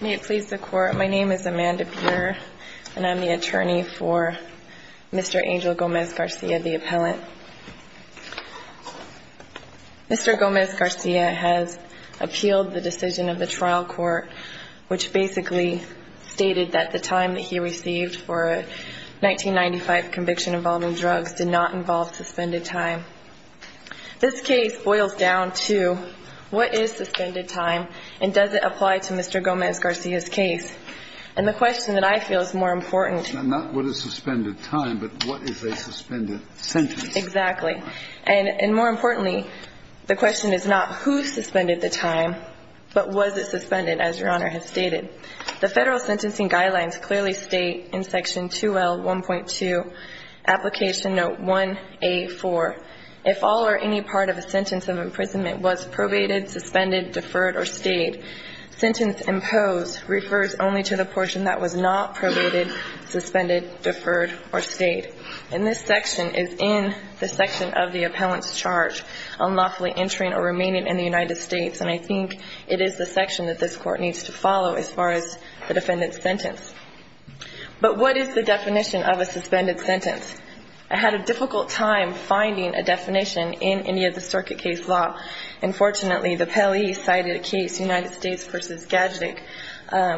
May it please the court, my name is Amanda Peter and I'm the attorney for Mr. Angel Gomez-Garcia, the appellant. Mr. Gomez-Garcia has appealed the decision of the trial court, which basically stated that the time that he received for a 1995 conviction involving drugs did not involve suspended time. This case boils down to what is suspended time and does it apply to Mr. Gomez-Garcia's case? And the question that I feel is more important... Not what is suspended time, but what is a suspended sentence? Exactly. And more importantly, the question is not who suspended the time, but was it suspended, as Your Honor has stated. The federal sentencing guidelines clearly state in section 2L1.2, application note 1A4, if all or any part of a sentence of imprisonment was probated, suspended, deferred, or stayed, sentence imposed refers only to the portion that was not probated, suspended, deferred, or stayed. And this section is in the section of the appellant's charge on lawfully entering or remaining in the United States. And I think it is the section that this Court needs to follow as far as the defendant's sentence. But what is the definition of a suspended sentence? I had a difficult time finding a definition in any of the circuit case law. And fortunately, the Pelley cited a case, United States v. Gadzik,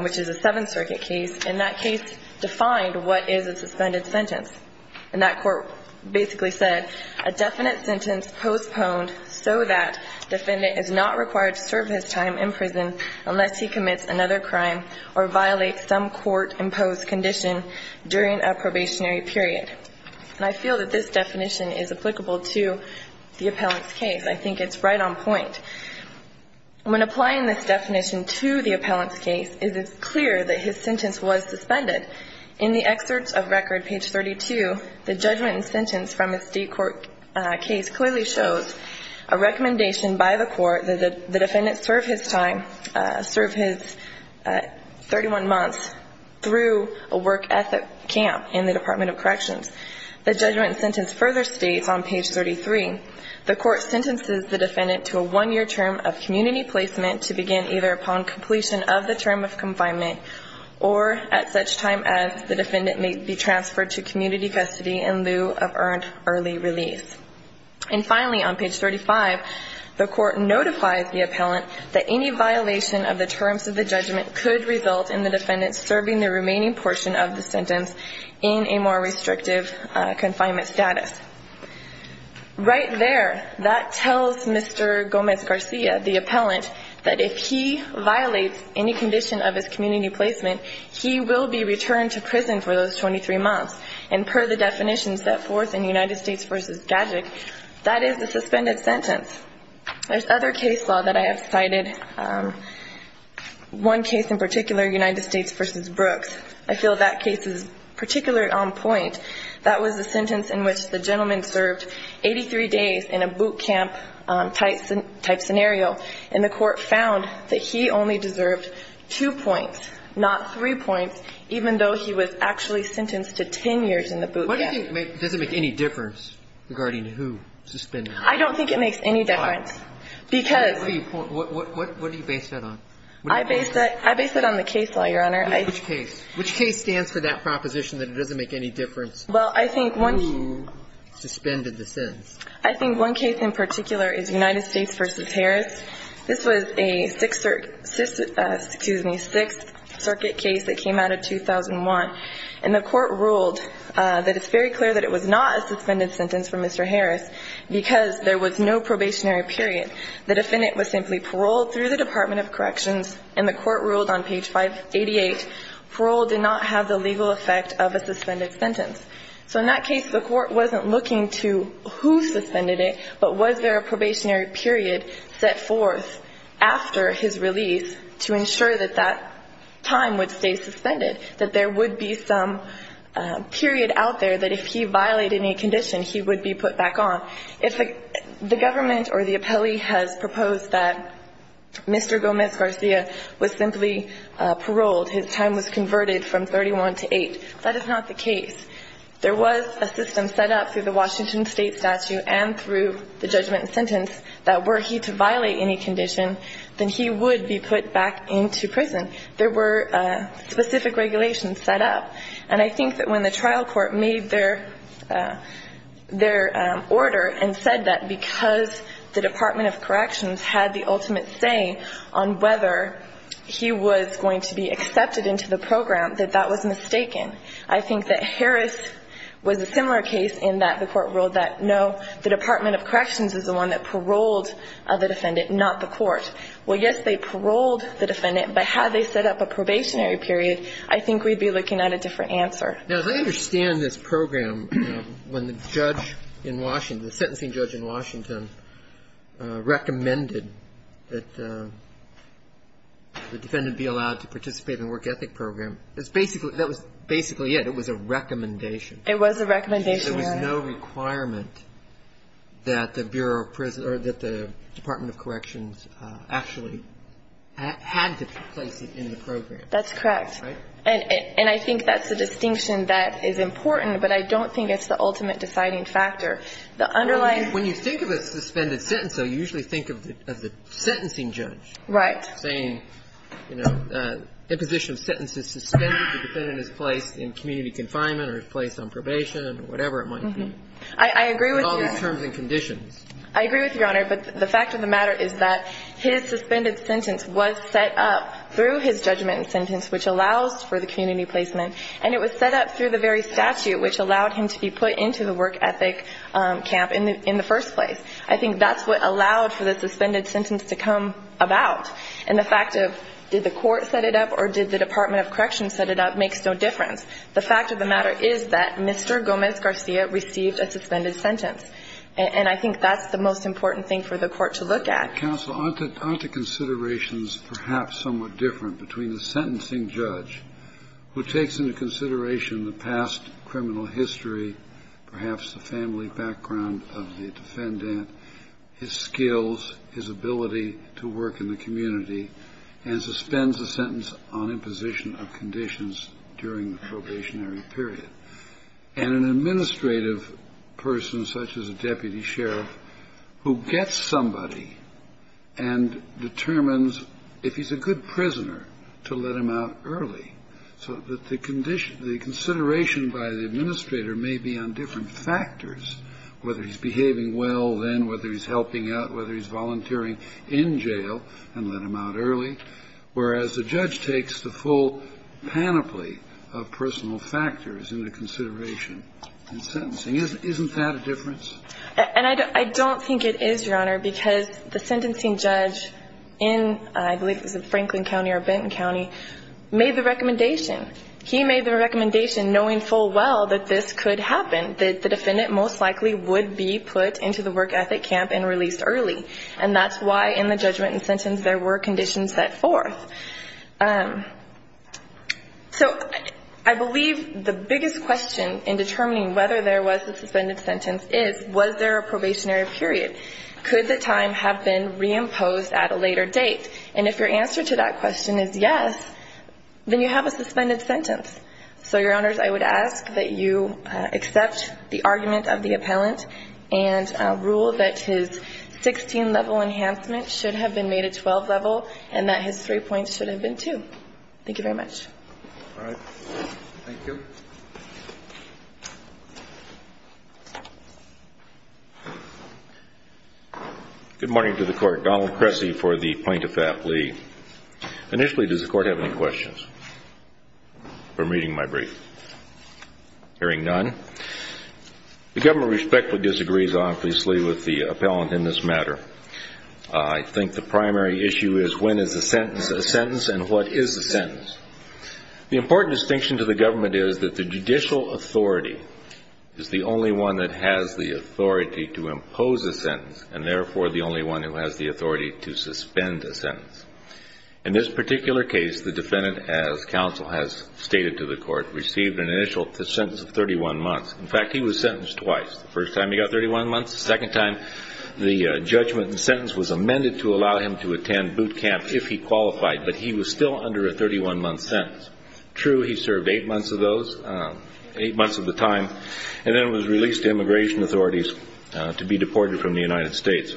which is a Seventh Circuit case. And that case defined what is a suspended sentence. And that court basically said, a definite sentence postponed so that defendant is not required to serve his time in prison unless he commits another crime or violates some court-imposed condition during a probationary period. And I feel that this definition is applicable to the appellant's case. I think it's right on point. When applying this definition to the appellant's case, it is clear that his sentence was suspended. In the excerpts of record, page 32, the judgment and sentence from a state court case clearly shows a recommendation by the court that the defendant serve his time, serve his 31 months through a work ethic camp in the Department of Corrections. The judgment and sentence further states on page 33, the court sentences the defendant to a one-year term of community placement to begin either upon completion of the term of confinement or at such time as the defendant may be transferred to community custody in lieu of earned early release. And finally, on page 35, the court notifies the appellant that any violation of the terms of the judgment could result in the defendant serving the remaining portion of the sentence in a more restrictive confinement status. Right there, that tells Mr. Gomez-Garcia, the appellant, that if he violates any condition of his community placement, he will be returned to prison for those 23 months. And per the definition set forth in United States v. Gadig, that is the suspended sentence. There's other case law that I have cited, one case in particular, United States v. Brooks. I feel that case is particularly on point. That was the sentence in which the gentleman served 83 days in a boot camp-type scenario, and the court found that he only deserved two points, not three points, even though he was actually sentenced to 10 years in the boot camp. What do you think makes – does it make any difference regarding who suspended? I don't think it makes any difference. Why? Because – What do you – what do you base that on? I base that – I base that on the case law, Your Honor. Which case? Which case stands for that proposition that it doesn't make any difference who suspended the sentence? I think one case in particular is United States v. Harris. This was a Sixth Cir – excuse me, Sixth Circuit case that came out of 2001, and the court ruled that it's very clear that it was not a suspended sentence for Mr. Harris because there was no probationary period. The defendant was simply paroled through the Department of Corrections, and the court ruled on page 588, parole did not have the legal effect of a suspended sentence. So in that case, the court wasn't looking to who suspended it, but was there a probationary period set forth after his release to ensure that that time would stay suspended, that there would be some period out there that if he violated any condition, he would be put back on. If the government or the appellee has proposed that Mr. Gomez-Garcia was simply paroled, his time was converted from 31 to 8, that is not the case. There was a system set up through the Washington State statute and through the judgment and sentence that were he to violate any condition, then he would be put back into prison. There were specific regulations set up. And I think that when the trial court made their order and said that because the Department of Corrections had the ultimate say on whether he was going to be accepted into the program, that that was mistaken. I think that Harris was a similar case in that the court ruled that, no, the Department of Corrections is the one that paroled the defendant, not the court. Well, yes, they paroled the defendant, but had they set up a probationary period, I think we'd be looking at a different answer. Now, as I understand this program, when the judge in Washington, the sentencing judge in Washington recommended that the defendant be allowed to participate in the work ethic program, that was basically it. It was a recommendation. It was a recommendation, yes. There was no requirement that the Bureau of Prisons or that the Department of Corrections actually had to place him in the program. That's correct. And I think that's the distinction that is important, but I don't think it's the ultimate deciding factor. The underlying – When you think of a suspended sentence, though, you usually think of the sentencing judge. Right. Saying, you know, imposition of sentence is suspended. The defendant is placed in community confinement or is placed on probation or whatever it might be. I agree with you, Your Honor. And all these terms and conditions. I agree with you, Your Honor. But the fact of the matter is that his suspended sentence was set up through his judgment sentence, which allows for the community placement. And it was set up through the very statute which allowed him to be put into the work ethic camp in the first place. I think that's what allowed for the suspended sentence to come about. And the fact of did the court set it up or did the Department of Corrections set it up makes no difference. The fact of the matter is that Mr. Gomez-Garcia received a suspended sentence. And I think that's the most important thing for the court to look at. Counsel, aren't the considerations perhaps somewhat different between the sentencing judge who takes into consideration the past criminal history, perhaps the family background of the defendant, his skills, his ability to work in the community, and suspends a sentence on imposition of conditions during the probationary period, and an administrative person such as a deputy sheriff who gets somebody and determines if he's a good prisoner to let him out early? So the consideration by the administrator may be on different factors, whether he's behaving well then, whether he's helping out, whether he's volunteering in jail and let him out early, whereas the judge takes the full panoply of personal factors into consideration in sentencing. Isn't that a difference? And I don't think it is, Your Honor, because the sentencing judge in, I believe it was in Franklin County or Benton County, made the recommendation. He made the recommendation knowing full well that this could happen, that the defendant most likely would be put into the work ethic camp and released early. And that's why in the judgment and sentence there were conditions set forth. So I believe the biggest question in determining whether there was a suspended sentence is, was there a probationary period? Could the time have been reimposed at a later date? And if your answer to that question is yes, then you have a suspended sentence. So, Your Honors, I would ask that you accept the argument of the appellant and rule that his 16-level enhancement should have been made a 12-level and that his three points should have been two. Thank you very much. All right. Thank you. Good morning to the court. Donald Cressy for the plaintiff at lead. Initially, does the court have any questions from reading my brief? Hearing none, the government respectfully disagrees honestly with the appellant in this matter. I think the primary issue is when is a sentence a sentence and what is a sentence? The important distinction to the government is that the judicial authority is the only one that has the authority to impose a sentence and, therefore, the only one who has the authority to suspend a sentence. In this particular case, the defendant, as counsel has stated to the court, received an initial sentence of 31 months. In fact, he was sentenced twice, the first time he got 31 months, the second time the judgment and sentence was amended to allow him to attend boot camp if he qualified, but he was still under a 31-month sentence. True, he served eight months of those, eight months of the time, and then was released to immigration authorities to be deported from the United States.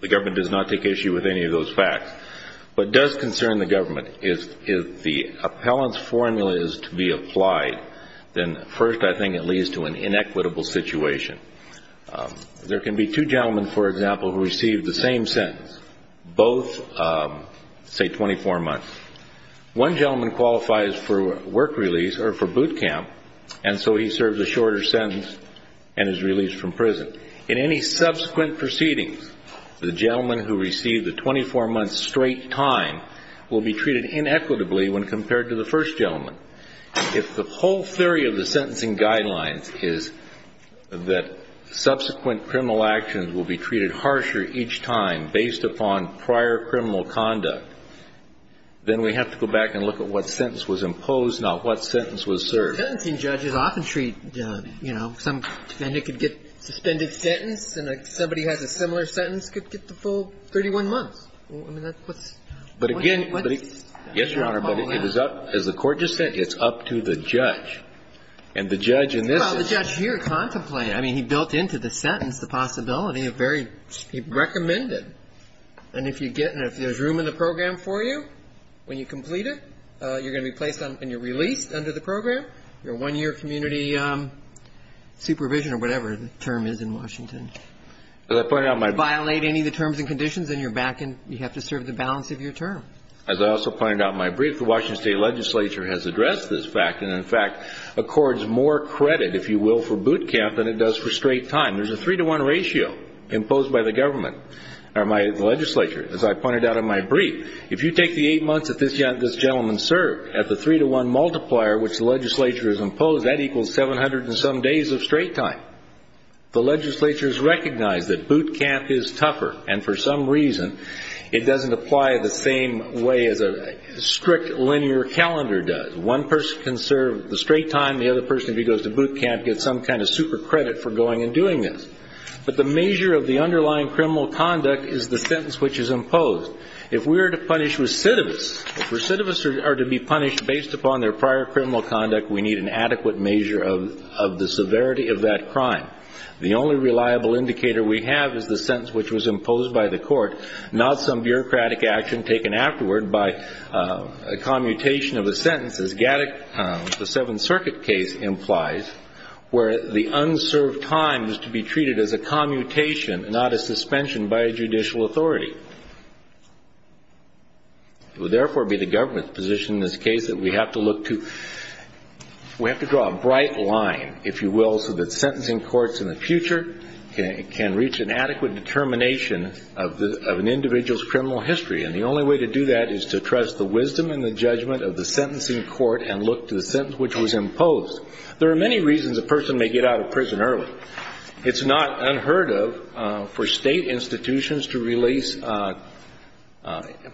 The government does not take issue with any of those facts. What does concern the government is if the appellant's formula is to be applied, then, first, I think it leads to an inequitable situation. There can be two gentlemen, for example, who receive the same sentence, both, say, 24 months. One gentleman qualifies for work release or for boot camp, and so he serves a shorter sentence and is released from prison. In any subsequent proceedings, the gentleman who received the 24-month straight time will be treated inequitably when compared to the first gentleman. If the whole theory of the sentencing guidelines is that subsequent criminal actions will be treated harsher each time based upon prior criminal conduct, then we have to go back and look at what sentence was imposed, not what sentence was served. Sentencing judges often treat, you know, some defendant could get a suspended sentence, and somebody who has a similar sentence could get the full 31 months. I mean, that's what's... But again... Yes, Your Honor, but it is up, as the Court just said, it's up to the judge. And the judge in this is... Well, the judge here contemplated. I mean, he built into the sentence the possibility of very... He recommended. And if you get and if there's room in the program for you, when you complete it, you're going to be placed on and you're released under the program. You're a one-year community supervision or whatever the term is in Washington. As I pointed out, my... As I also pointed out in my brief, the Washington State Legislature has addressed this fact and, in fact, accords more credit, if you will, for boot camp than it does for straight time. There's a three-to-one ratio imposed by the government or my legislature. As I pointed out in my brief, if you take the eight months that this gentleman served at the three-to-one multiplier which the legislature has imposed, that equals 700 and some days of straight time. The legislature has recognized that boot camp is tougher, and for some reason, it doesn't apply the same way as a strict linear calendar does. One person can serve the straight time. The other person, if he goes to boot camp, gets some kind of super credit for going and doing this. But the measure of the underlying criminal conduct is the sentence which is imposed. If we're to punish recidivists, if recidivists are to be punished based upon their prior criminal conduct, we need an adequate measure of the severity of that crime. The only reliable indicator we have is the sentence which was imposed by the legislature, not some bureaucratic action taken afterward by a commutation of a sentence, as Gaddick, the Seventh Circuit case implies, where the unserved time was to be treated as a commutation, not a suspension by a judicial authority. It would therefore be the government's position in this case that we have to look to, we have to draw a bright line, if you will, so that sentencing courts in the future can reach an adequate determination of an individual's criminal history. And the only way to do that is to trust the wisdom and the judgment of the sentencing court and look to the sentence which was imposed. There are many reasons a person may get out of prison early. It's not unheard of for state institutions to release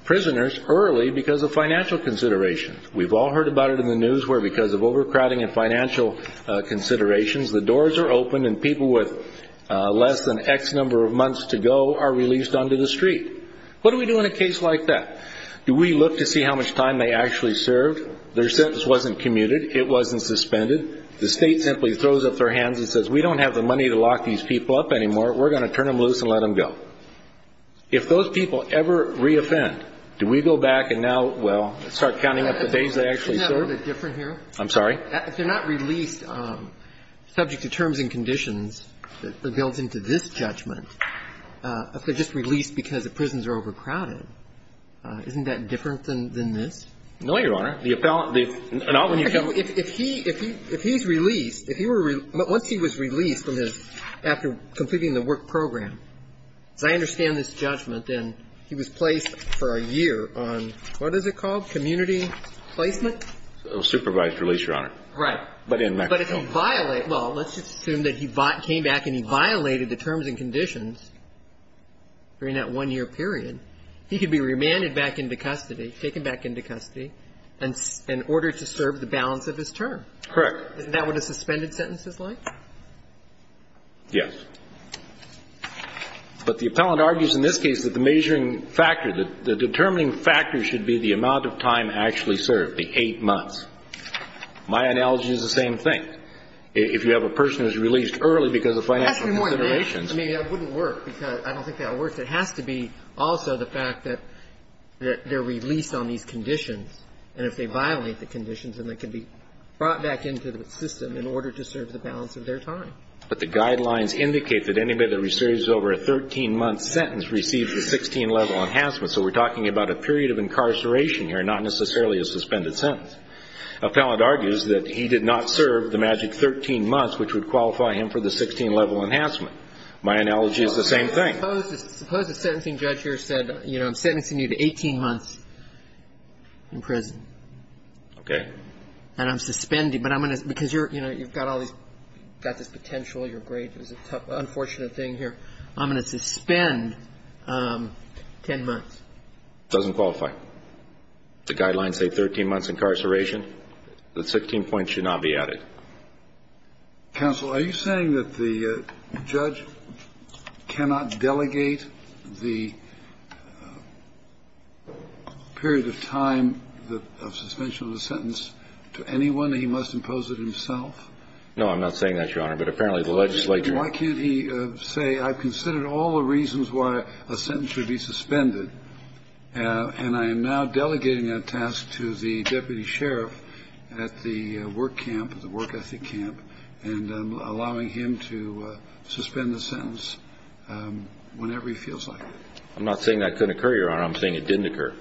prisoners early because of financial considerations. We've all heard about it in the news where because of overcrowding and financial considerations, the doors are open and people with less than X number of months to go are released onto the street. What do we do in a case like that? Do we look to see how much time they actually served? Their sentence wasn't commuted. It wasn't suspended. The state simply throws up their hands and says, we don't have the money to lock these people up anymore. We're going to turn them loose and let them go. If those people ever reoffend, do we go back and now, well, start counting up the days they actually served? I'm sorry? If they're not released subject to terms and conditions that builds into this judgment, if they're just released because the prisons are overcrowded, isn't that different than this? No, Your Honor. If he's released, if he were released, once he was released from his, after completing the work program, as I understand this judgment, then he was placed for a year on what is it called, community placement? Supervised release, Your Honor. Right. But in Mexico. But if he violated, well, let's assume that he came back and he violated the terms and conditions during that one-year period, he could be remanded back into custody, taken back into custody in order to serve the balance of his term. Correct. Isn't that what a suspended sentence is like? Yes. But the appellant argues in this case that the measuring factor, the determining factor should be the amount of time actually served, the 8 months. My analogy is the same thing. If you have a person who's released early because of financial considerations That would be more than that. I mean, that wouldn't work, because I don't think that works. It has to be also the fact that they're released on these conditions, and if they violate the conditions, then they can be brought back into the system in order to serve the balance of their time. But the guidelines indicate that anybody that receives over a 13-month sentence receives a 16-level enhancement. So we're talking about a period of incarceration here, not necessarily a suspended sentence. Appellant argues that he did not serve the magic 13 months, which would qualify him for the 16-level enhancement. My analogy is the same thing. Suppose the sentencing judge here said, you know, I'm sentencing you to 18 months in prison. Okay. And I'm suspending, but I'm going to – because you're, you know, you've got all these – got this potential, you're great, it's an unfortunate thing here. I'm going to suspend 10 months. Doesn't qualify. The guidelines say 13 months incarceration. The 16 points should not be added. Counsel, are you saying that the judge cannot delegate the period of time of suspension of a sentence to anyone? He must impose it himself? No, I'm not saying that, Your Honor. But apparently the legislature – I have considered all the reasons why a sentence should be suspended, and I am now delegating that task to the deputy sheriff at the work camp, the work ethic camp, and allowing him to suspend the sentence whenever he feels like it. I'm not saying that couldn't occur, Your Honor. I'm saying it didn't occur.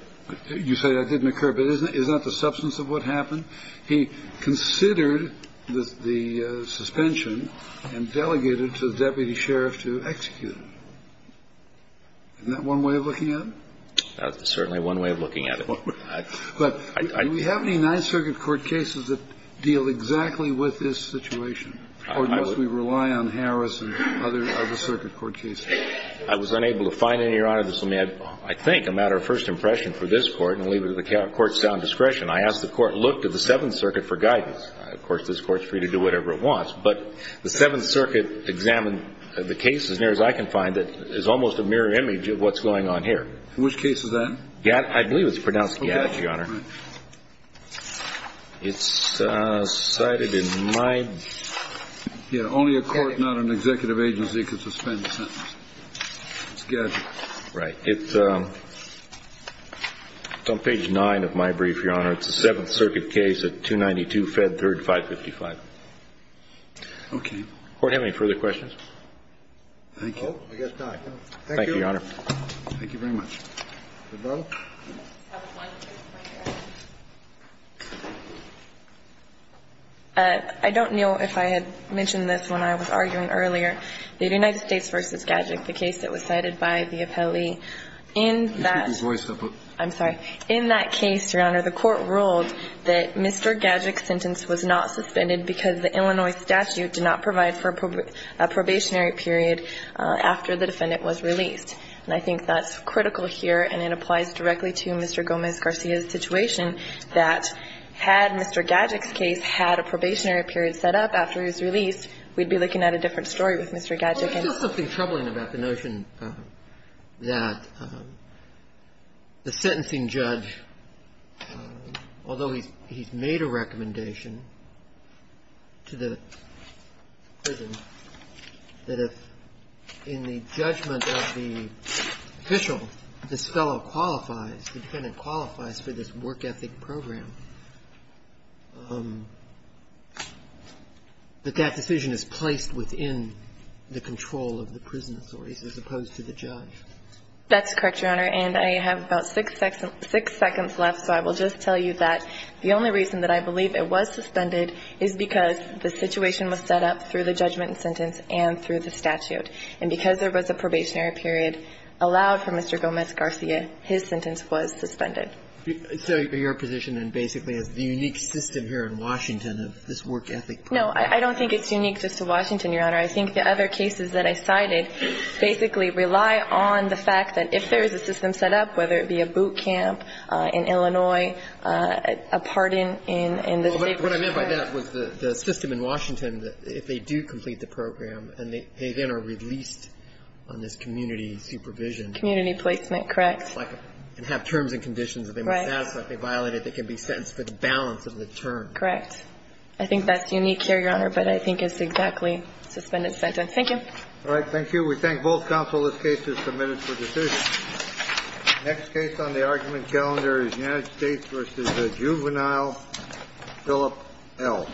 You say that didn't occur, but isn't that the substance of what happened? He considered the suspension and delegated it to the deputy sheriff to execute it. Isn't that one way of looking at it? That's certainly one way of looking at it. But do we have any Ninth Circuit court cases that deal exactly with this situation? Or must we rely on Harris and other circuit court cases? I was unable to find any, Your Honor. This will be, I think, a matter of first impression for this Court and leave it to the Court's own discretion. I asked the Court to look to the Seventh Circuit for guidance. Of course, this Court is free to do whatever it wants. But the Seventh Circuit examined the case as near as I can find that is almost a mirror image of what's going on here. Which case is that? I believe it's pronounced Gadget, Your Honor. It's cited in my – Yeah, only a court, not an executive agency, could suspend a sentence. It's Gadget. Right. It's on page 9 of my brief, Your Honor. It's a Seventh Circuit case at 292 Fed 3rd 555. Okay. Does the Court have any further questions? Thank you. I guess not. Thank you. Thank you, Your Honor. Thank you very much. Ms. Bell? I don't know if I had mentioned this when I was arguing earlier. The United States v. Gadget, the case that was cited by the appellee, in that – You keep your voice up. I'm sorry. In that case, Your Honor, the Court ruled that Mr. Gadget's sentence was not suspended because the Illinois statute did not provide for a probationary period after the defendant was released. And I think that's critical here, and it applies directly to Mr. Gomez-Garcia's situation, that had Mr. Gadget's case had a probationary period set up after he was released. Well, there's just something troubling about the notion that the sentencing judge, although he's made a recommendation to the prison, that if in the judgment of the official, this fellow qualifies, the defendant qualifies for this work ethic program, that that decision is placed within the control of the prison authorities as opposed to the judge. That's correct, Your Honor. And I have about six seconds left, so I will just tell you that the only reason that I believe it was suspended is because the situation was set up through the judgment and sentence and through the statute. And because there was a probationary period allowed for Mr. Gomez-Garcia, his sentence was suspended. So your position then basically is the unique system here in Washington of this work ethic program. No, I don't think it's unique just to Washington, Your Honor. I think the other cases that I cited basically rely on the fact that if there is a system set up, whether it be a boot camp in Illinois, a pardon in the state of New York. What I meant by that was the system in Washington, if they do complete the program and they then are released on this community supervision. Community placement, correct. And have terms and conditions. Right. If they violate it, they can be sentenced for the balance of the terms. Correct. I think that's unique here, Your Honor, but I think it's exactly suspended sentence. Thank you. All right. Thank you. We thank both counsel. This case is submitted for decision. Next case on the argument calendar is United States v. Juvenile, Philip L.